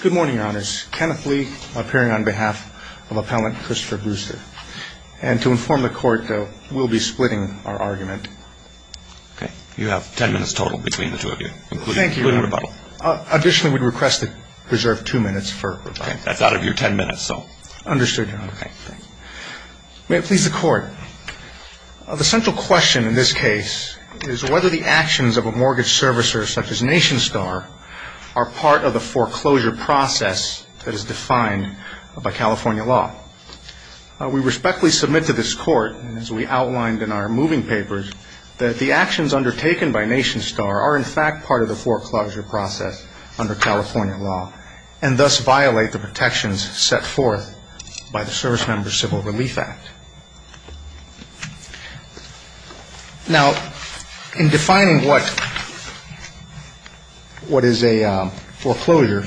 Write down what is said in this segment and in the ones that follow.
Good morning, Your Honors. Kenneth Lee, appearing on behalf of Appellant Christopher Brewster. And to inform the Court, though, we'll be splitting our argument. Okay. You have ten minutes total between the two of you, including rebuttal. Additionally, we'd request that you reserve two minutes for rebuttal. Okay. That's out of your ten minutes, so... Understood, Your Honor. May it please the Court. The central question in this case is whether the actions of a mortgage servicer such as Nationstar are part of the foreclosure process that is defined by California law. We respectfully submit to this Court, as we outlined in our moving papers, that the actions undertaken by Nationstar are, in fact, part of the foreclosure process under California law and thus violate the protections set forth by the Service Member Civil Relief Act. Now, in defining what is a foreclosure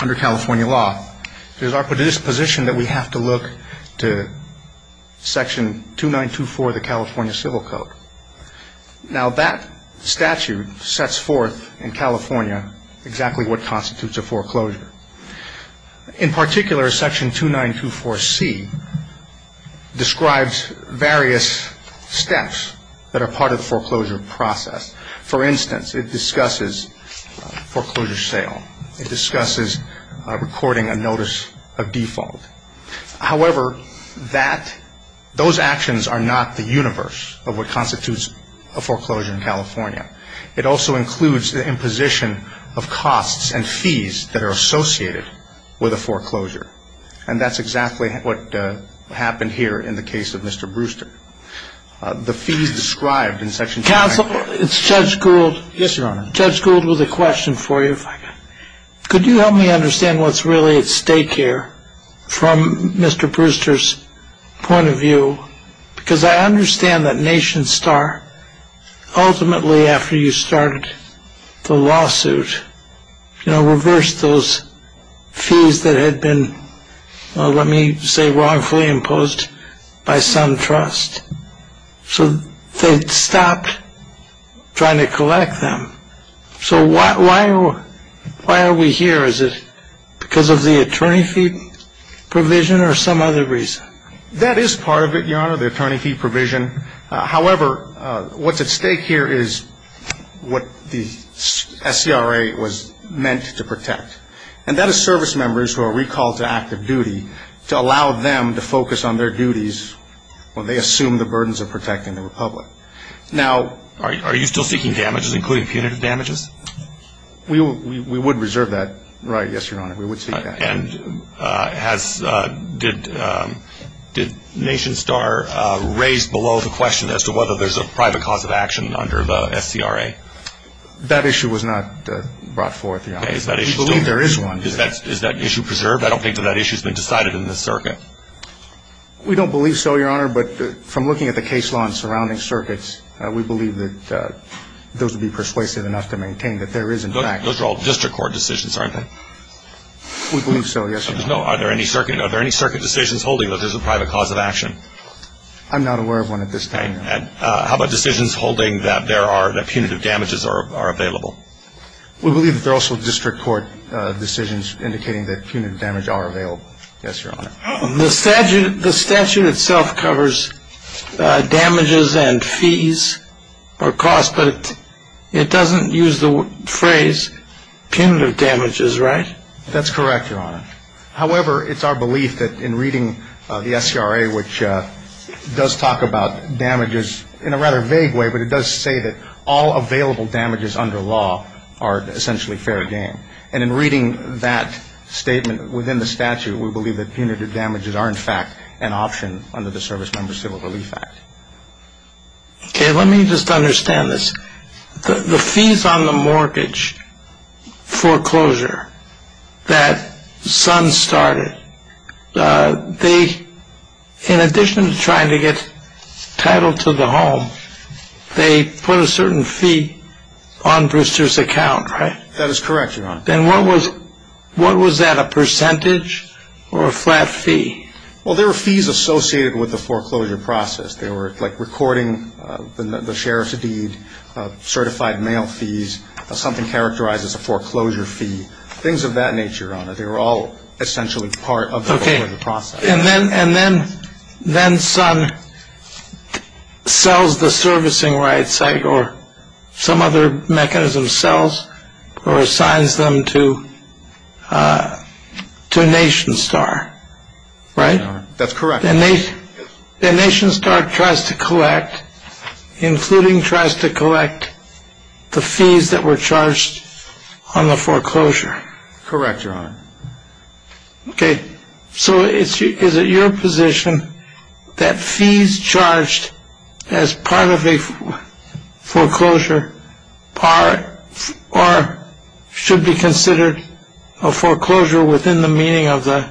under California law, it is our position that we have to look to Section 2924 of the California Civil Code. Now, that statute sets forth in California exactly what constitutes a foreclosure. In particular, Section 2924C describes various steps that are part of the foreclosure process. For instance, it discusses foreclosure sale. It discusses recording a notice of default. However, those actions are not the universe of what constitutes a foreclosure in California. It also includes the imposition of costs and fees that are associated with a foreclosure. And that's exactly what happened here in the case of Mr. Brewster. The fees described in Section 2924. Counsel, it's Judge Gould. Yes, Your Honor. Judge Gould, with a question for you, if I could. Could you help me understand what's really at stake here from Mr. Brewster's point of view? Because I understand that Nation Star, ultimately after you started the lawsuit, reversed those fees that had been, let me say, wrongfully imposed by some trust. So they stopped trying to collect them. So why are we here? Is it because of the attorney fee provision or some other reason? That is part of it, Your Honor, the attorney fee provision. However, what's at stake here is what the SCRA was meant to protect. And that is service members who are recalled to active duty to allow them to focus on their duties when they assume the burdens of protecting the Republic. Now are you still seeking damages, including punitive damages? We would reserve that right, yes, Your Honor. We would seek that. And did Nation Star raise below the question as to whether there's a private cause of action under the SCRA? That issue was not brought forth, Your Honor. We believe there is one. Is that issue preserved? I don't think that that issue has been decided in this circuit. We don't believe so, Your Honor, but from looking at the case law and surrounding circuits, we believe that those would be persuasive enough to maintain that there is, in fact. Those are all district court decisions, aren't they? We believe so, yes, Your Honor. Are there any circuit decisions holding that there's a private cause of action? I'm not aware of one at this time, Your Honor. How about decisions holding that there are, that punitive damages are available? We believe that there are also district court decisions indicating that punitive damage are available. Yes, Your Honor. The statute itself covers damages and fees or costs, but it doesn't use the phrase punitive damages, right? That's correct, Your Honor. However, it's our belief that in reading the SCRA, which does talk about damages in a rather vague way, but it does say that all available damages under law are essentially fair game. And in reading that statement within the statute, we believe that punitive damages are, in fact, an option under the Service Member Civil Relief Act. Okay, let me just understand this. The fees on the mortgage foreclosure that Sun started, they, in addition to trying to get title to the home, they put a certain fee on Brewster's account, right? That is correct, Your Honor. Then what was that, a percentage or a flat fee? Well, there were fees associated with the foreclosure process. They were, like, recording the sheriff's deed, certified mail fees, something characterized as a foreclosure fee, things of that nature, Your Honor. They were all essentially part of the process. Okay. And then Sun sells the servicing right, or some other mechanism sells or assigns them to NationStar, right? That's correct. Then NationStar tries to collect, including tries to collect the fees that were charged on the foreclosure. Correct, Your Honor. Okay, so is it your position that fees charged as part of a foreclosure are or should be considered a foreclosure within the meaning of the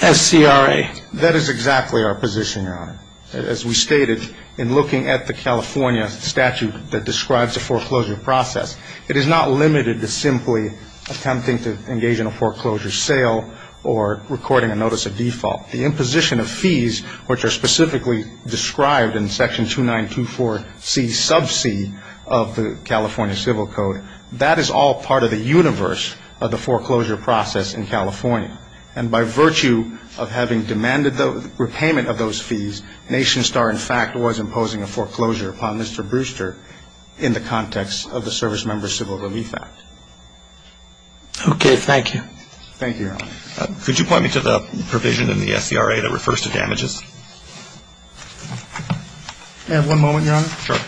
SCRA? That is exactly our position, Your Honor. As we stated, in looking at the California statute that describes the foreclosure process, it is not limited to simply attempting to engage in a foreclosure sale or recording a notice of default. The imposition of fees, which are specifically described in Section 2924C sub C of the California Civil Code, that is all part of the universe of the foreclosure process in California. And by virtue of having demanded the repayment of those fees, NationStar, in fact, was imposing a foreclosure upon Mr. Brewster in the context of the Service Member Civil Relief Act. Okay. Thank you. Thank you, Your Honor. Could you point me to the provision in the SCRA that refers to damages? May I have one moment, Your Honor? Sure.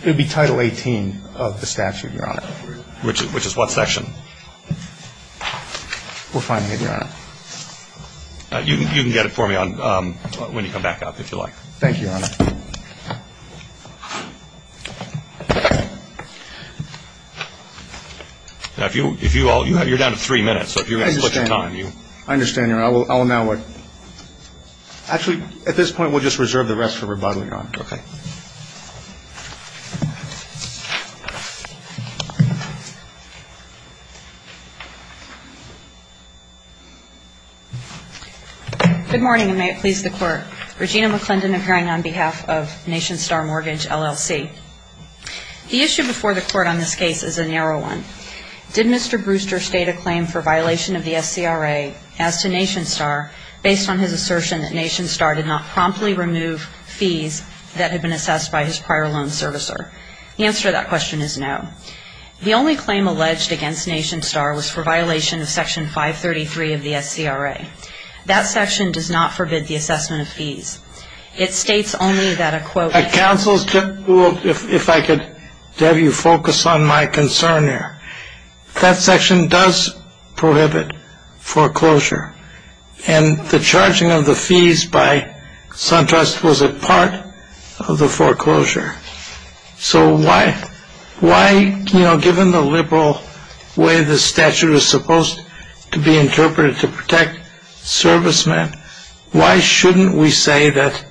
It would be Title 18 of the statute, Your Honor. Which is what section? We're finding it, Your Honor. You can get it for me when you come back up, if you like. Thank you, Your Honor. Now, if you all you're down to three minutes, so if you're going to split your time. I understand, Your Honor. Actually, at this point, we'll just reserve the rest for rebuttal, Your Honor. Okay. Good morning, and may it please the Court. Regina McClendon, appearing on behalf of NationStar Mortgage, LLC. The issue before the Court on this case is a narrow one. Did Mr. Brewster state a claim for violation of the SCRA as to NationStar based on his assertion that NationStar did not promptly remove fees that had been assessed by his prior loan servicer? The answer to that question is no. The only claim alleged against NationStar was for violation of Section 533 of the SCRA. That section does not forbid the assessment of fees. It states only that a, quote, Counsel, if I could have you focus on my concern here. That section does prohibit foreclosure, and the charging of the fees by SunTrust was a part of the foreclosure. So why, you know, given the liberal way the statute is supposed to be interpreted to protect servicemen, why shouldn't we say that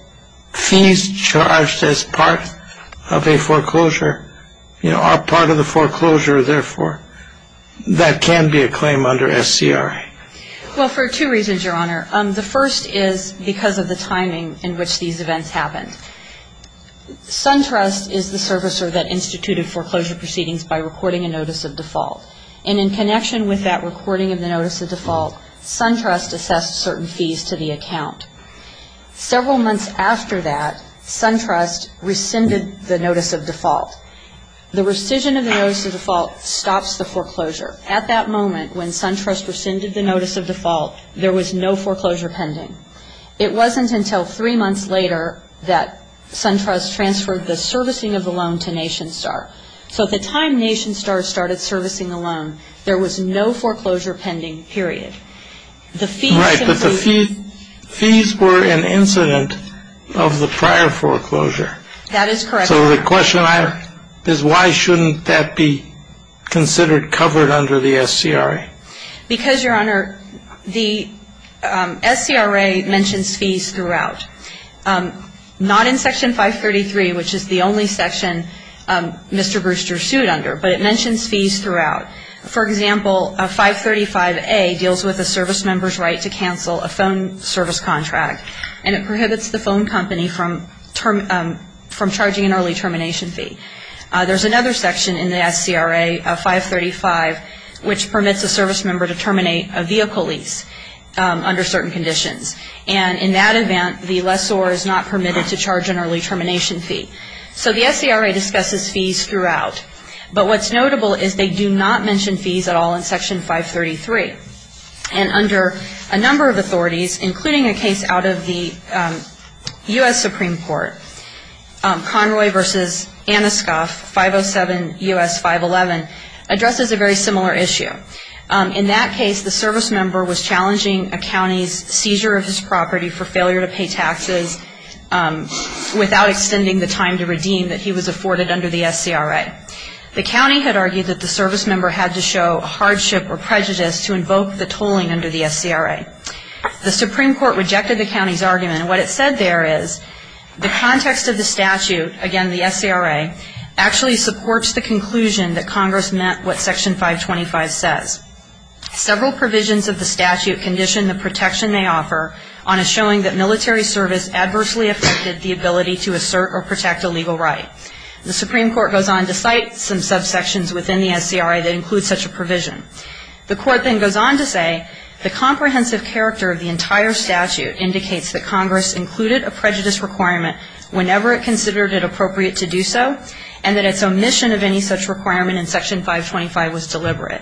fees charged as part of a foreclosure, you know, are part of the foreclosure, therefore that can be a claim under SCRA? Well, for two reasons, Your Honor. The first is because of the timing in which these events happened. SunTrust is the servicer that instituted foreclosure proceedings by recording a notice of default. And in connection with that recording of the notice of default, SunTrust assessed certain fees to the account. Several months after that, SunTrust rescinded the notice of default. The rescission of the notice of default stops the foreclosure. At that moment, when SunTrust rescinded the notice of default, there was no foreclosure pending. It wasn't until three months later that SunTrust transferred the servicing of the loan to NationStar. So at the time NationStar started servicing the loan, there was no foreclosure pending, period. Right, but the fees were an incident of the prior foreclosure. That is correct. So the question I have is why shouldn't that be considered covered under the SCRA? Because, Your Honor, the SCRA mentions fees throughout. Not in Section 533, which is the only section Mr. Brewster sued under, but it mentions fees throughout. For example, 535A deals with a service member's right to cancel a phone service contract, and it prohibits the phone company from charging an early termination fee. There's another section in the SCRA, 535, which permits a service member to terminate a vehicle lease under certain conditions. And in that event, the lessor is not permitted to charge an early termination fee. So the SCRA discusses fees throughout. But what's notable is they do not mention fees at all in Section 533. And under a number of authorities, including a case out of the U.S. Supreme Court, Conroy v. Aniskoff, 507 U.S. 511, addresses a very similar issue. In that case, the service member was challenging a county's seizure of his property for failure to pay taxes without extending the time to redeem that he was afforded under the SCRA. The county had argued that the service member had to show hardship or prejudice to invoke the tolling under the SCRA. The Supreme Court rejected the county's argument. What it said there is the context of the statute, again, the SCRA, actually supports the conclusion that Congress meant what Section 525 says. Several provisions of the statute condition the protection they offer on a showing that military service adversely affected the ability to assert or protect a legal right. The Supreme Court goes on to cite some subsections within the SCRA that include such a provision. The Court then goes on to say the comprehensive character of the entire statute indicates that Congress included a prejudice requirement whenever it considered it appropriate to do so and that its omission of any such requirement in Section 525 was deliberate.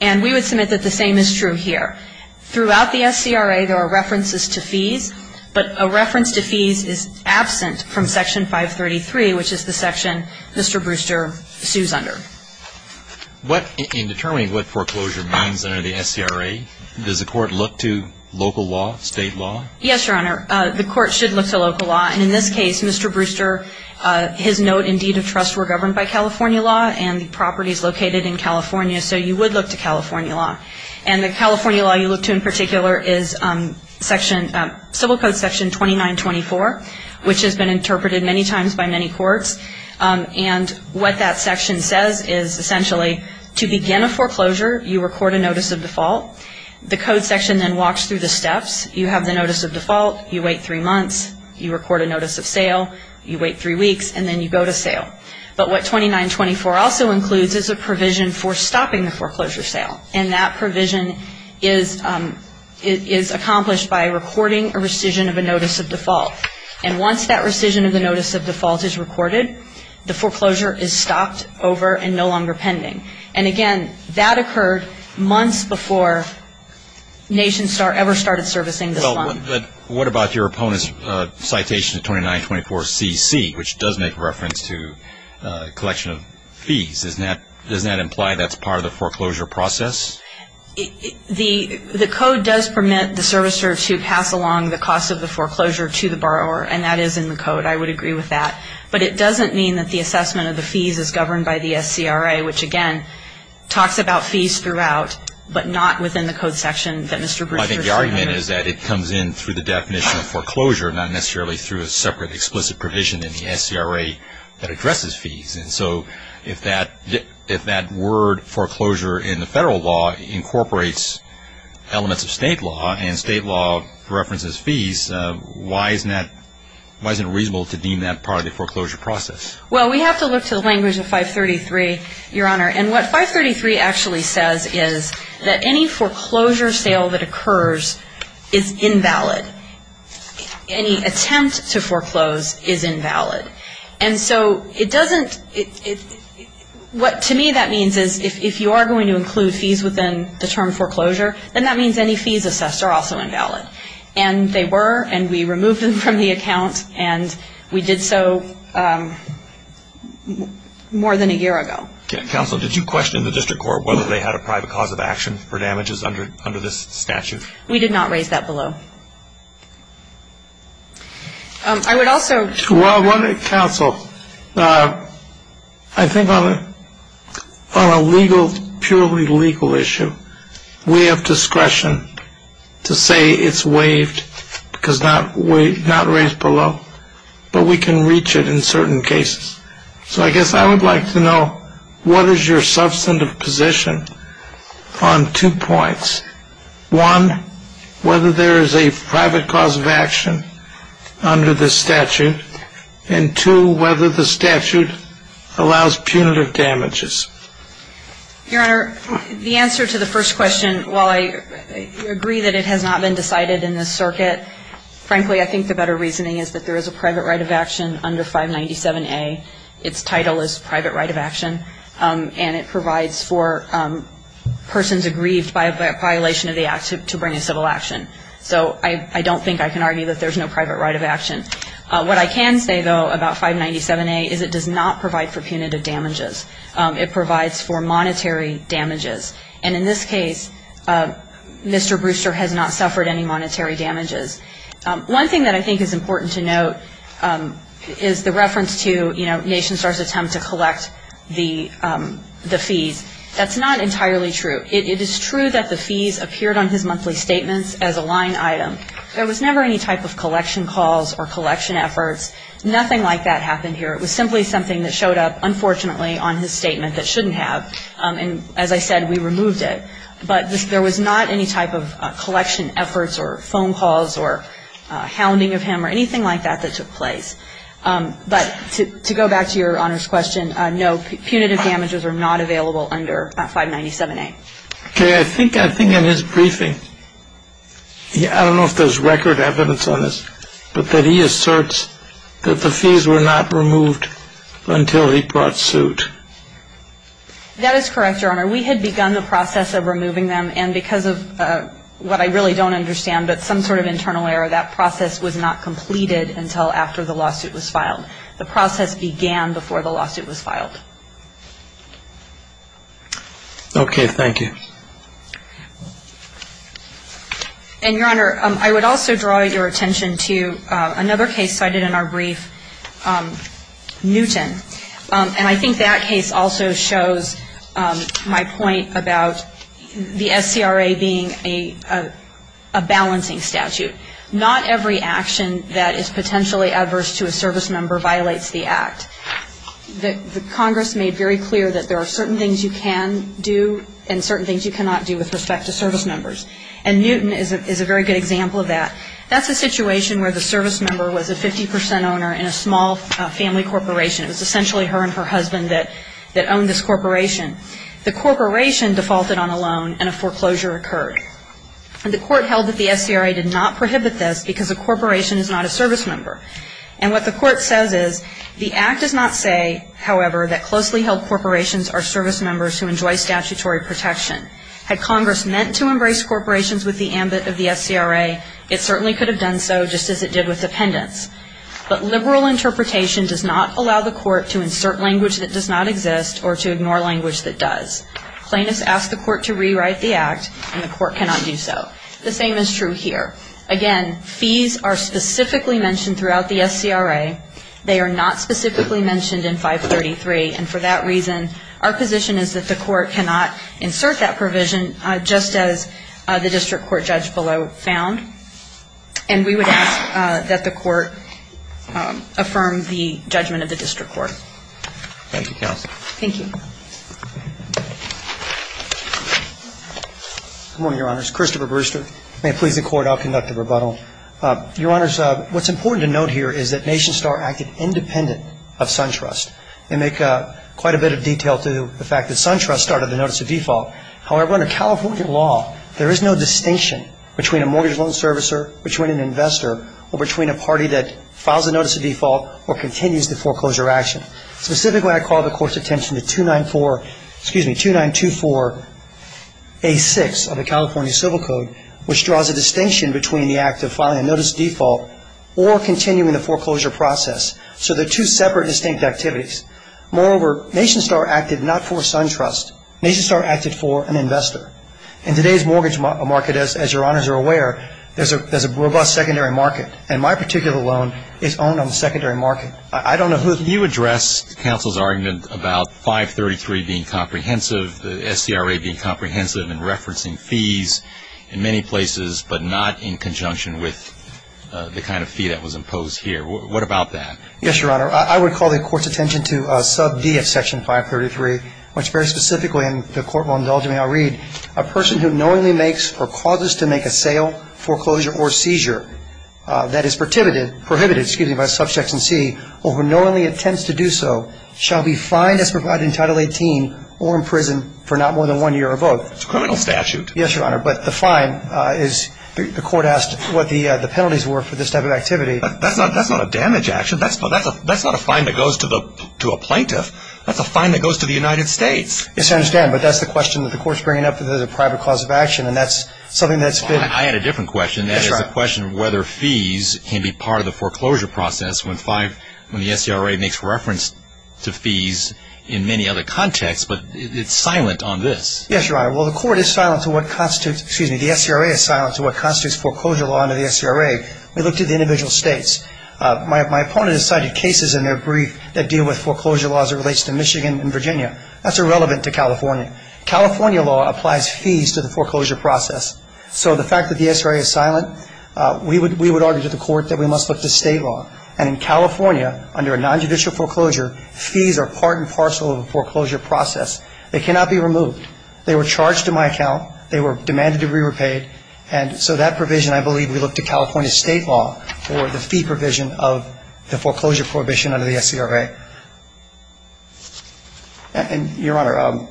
And we would submit that the same is true here. Throughout the SCRA, there are references to fees, but a reference to fees is absent from Section 533, which is the section Mr. Brewster sues under. In determining what foreclosure means under the SCRA, does the Court look to local law, state law? Yes, Your Honor. The Court should look to local law. And in this case, Mr. Brewster, his note and deed of trust were governed by California law, and the property is located in California, so you would look to California law. And the California law you look to in particular is Civil Code Section 2924, which has been interpreted many times by many courts. And what that section says is essentially to begin a foreclosure, you record a notice of default. The code section then walks through the steps. You have the notice of default. You wait three months. You record a notice of sale. You wait three weeks, and then you go to sale. But what 2924 also includes is a provision for stopping the foreclosure sale, and that provision is accomplished by recording a rescission of a notice of default. And once that rescission of the notice of default is recorded, the foreclosure is stopped over and no longer pending. And, again, that occurred months before NationStar ever started servicing this fund. But what about your opponent's citation of 2924CC, which does make reference to collection of fees? Does that imply that's part of the foreclosure process? The code does permit the servicer to pass along the cost of the foreclosure to the borrower, and that is in the code. I would agree with that. But it doesn't mean that the assessment of the fees is governed by the SCRA, which, again, talks about fees throughout, but not within the code section that Mr. Brewster is referring to. Well, I think the argument is that it comes in through the definition of foreclosure, not necessarily through a separate explicit provision in the SCRA that addresses fees. And so if that word foreclosure in the federal law incorporates elements of state law and state law references fees, why isn't it reasonable to deem that part of the foreclosure process? Well, we have to look to the language of 533, Your Honor. And what 533 actually says is that any foreclosure sale that occurs is invalid. Any attempt to foreclose is invalid. And so it doesn't – what to me that means is if you are going to include fees within the term foreclosure, then that means any fees assessed are also invalid. And they were, and we removed them from the account, and we did so more than a year ago. Counsel, did you question the district court whether they had a private cause of action for damages under this statute? We did not raise that below. I would also – Well, counsel, I think on a legal, purely legal issue, we have discretion to say it's waived because not raised below. But we can reach it in certain cases. So I guess I would like to know what is your substantive position on two points. One, whether there is a private cause of action under this statute. And two, whether the statute allows punitive damages. Your Honor, the answer to the first question, while I agree that it has not been decided in this circuit, frankly, I think the better reasoning is that there is a private right of action under 597A. Its title is private right of action. And it provides for persons aggrieved by a violation of the act to bring a civil action. So I don't think I can argue that there's no private right of action. What I can say, though, about 597A is it does not provide for punitive damages. It provides for monetary damages. And in this case, Mr. Brewster has not suffered any monetary damages. One thing that I think is important to note is the reference to, you know, Nation Star's attempt to collect the fees. That's not entirely true. It is true that the fees appeared on his monthly statements as a line item. There was never any type of collection calls or collection efforts. Nothing like that happened here. It was simply something that showed up, unfortunately, on his statement that shouldn't have. And as I said, we removed it. But there was not any type of collection efforts or phone calls or hounding of him or anything like that that took place. But to go back to Your Honor's question, no, punitive damages are not available under 597A. Okay. I think in his briefing, I don't know if there's record evidence on this, but that he asserts that the fees were not removed until he brought suit. That is correct, Your Honor. We had begun the process of removing them. And because of what I really don't understand, but some sort of internal error, that process was not completed until after the lawsuit was filed. The process began before the lawsuit was filed. Okay. Thank you. And, Your Honor, I would also draw your attention to another case cited in our brief, Newton. And I think that case also shows my point about the SCRA being a balancing statute. Not every action that is potentially adverse to a service member violates the act. The Congress made very clear that there are certain things you can do and certain things you cannot do with respect to service members. And Newton is a very good example of that. That's a situation where the service member was a 50% owner in a small family corporation. It was essentially her and her husband that owned this corporation. The corporation defaulted on a loan and a foreclosure occurred. And the court held that the SCRA did not prohibit this because a corporation is not a service member. And what the court says is, the act does not say, however, that closely held corporations are service members who enjoy statutory protection. Had Congress meant to embrace corporations with the ambit of the SCRA, it certainly could have done so just as it did with dependents. But liberal interpretation does not allow the court to insert language that does not exist or to ignore language that does. Plaintiffs ask the court to rewrite the act, and the court cannot do so. The same is true here. Again, fees are specifically mentioned throughout the SCRA. They are not specifically mentioned in 533. And for that reason, our position is that the court cannot insert that provision, just as the district court judge below found. And we would ask that the court affirm the judgment of the district court. Thank you, counsel. Thank you. Good morning, Your Honors. Christopher Brewster. May it please the Court, I'll conduct a rebuttal. Your Honors, what's important to note here is that NationStar acted independent of SunTrust. They make quite a bit of detail to the fact that SunTrust started the notice of default. However, under California law, there is no distinction between a mortgage loan servicer, between an investor, or between a party that files a notice of default or continues the foreclosure action. Specifically, I call the court's attention to 2924A6 of the California Civil Code, which draws a distinction between the act of filing a notice of default or continuing the foreclosure process. So they're two separate, distinct activities. Moreover, NationStar acted not for SunTrust. NationStar acted for an investor. In today's mortgage market, as Your Honors are aware, there's a robust secondary market. And my particular loan is owned on the secondary market. I don't know who the ---- You address counsel's argument about 533 being comprehensive, the SCRA being comprehensive in referencing fees in many places, but not in conjunction with the kind of fee that was imposed here. What about that? Yes, Your Honor. I would call the court's attention to sub D of Section 533, which very specifically, and the court will indulge me, I'll read, a person who knowingly makes or causes to make a sale, foreclosure, or seizure that is prohibited by sub Section C or who knowingly intends to do so shall be fined as provided in Title 18 or imprisoned for not more than one year or both. It's a criminal statute. Yes, Your Honor. But the fine is, the court asked what the penalties were for this type of activity. That's not a damage action. That's not a fine that goes to a plaintiff. That's a fine that goes to the United States. Yes, I understand. But that's the question that the court's bringing up as a private cause of action, and that's something that's been ---- I had a different question. Yes, Your Honor. That is the question of whether fees can be part of the foreclosure process when the SCRA makes reference to fees in many other contexts, but it's silent on this. Yes, Your Honor. Well, the court is silent to what constitutes, excuse me, the SCRA is silent to what constitutes foreclosure law under the SCRA. We looked at the individual states. My opponent has cited cases in their brief that deal with foreclosure laws that relates to Michigan and Virginia. That's irrelevant to California. California law applies fees to the foreclosure process. So the fact that the SCRA is silent, we would argue to the court that we must look to state law. And in California, under a nonjudicial foreclosure, fees are part and parcel of the foreclosure process. They cannot be removed. They were charged to my account. They were demanded to be repaid. And so that provision I believe we look to California state law for the fee provision of the foreclosure prohibition under the SCRA. And, Your Honor,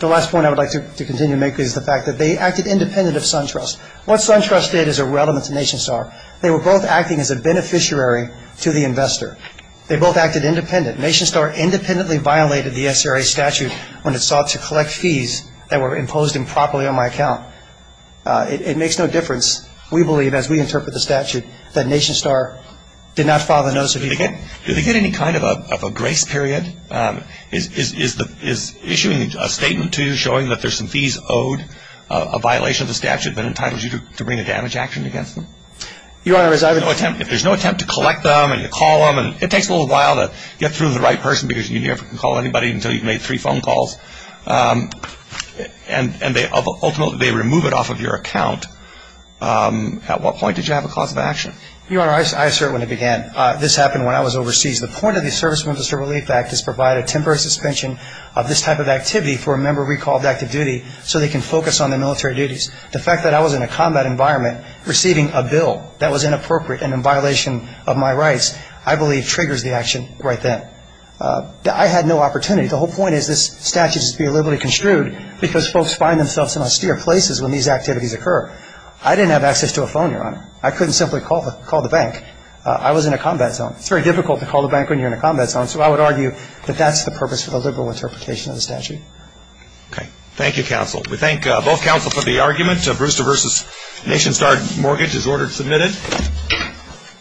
the last point I would like to continue to make is the fact that they acted independent of SunTrust. What SunTrust did is irrelevant to NationStar. They were both acting as a beneficiary to the investor. They both acted independent. NationStar independently violated the SCRA statute when it sought to collect fees that were imposed improperly on my account. It makes no difference. We believe, as we interpret the statute, that NationStar did not file the notice of evil. Did they get any kind of a grace period? Is issuing a statement to you showing that there's some fees owed, a violation of the statute that entitles you to bring a damage action against them? Your Honor, as I was going to say, If there's no attempt to collect them and to call them, it takes a little while to get through to the right person because you never can call anybody until you've made three phone calls. And they ultimately remove it off of your account. At what point did you have a cause of action? Your Honor, I assert when I began, this happened when I was overseas. The point of the Service Membership Relief Act is to provide a temporary suspension of this type of activity for a member recalled to active duty so they can focus on their military duties. The fact that I was in a combat environment, receiving a bill that was inappropriate and in violation of my rights, I believe triggers the action right then. I had no opportunity. The whole point is this statute is to be liberally construed because folks find themselves in austere places when these activities occur. I didn't have access to a phone, Your Honor. I couldn't simply call the bank. I was in a combat zone. It's very difficult to call the bank when you're in a combat zone, so I would argue that that's the purpose for the liberal interpretation of the statute. Okay. Thank you, counsel. We thank both counsel for the argument. Brewster v. Nation Star Mortgage is ordered submitted.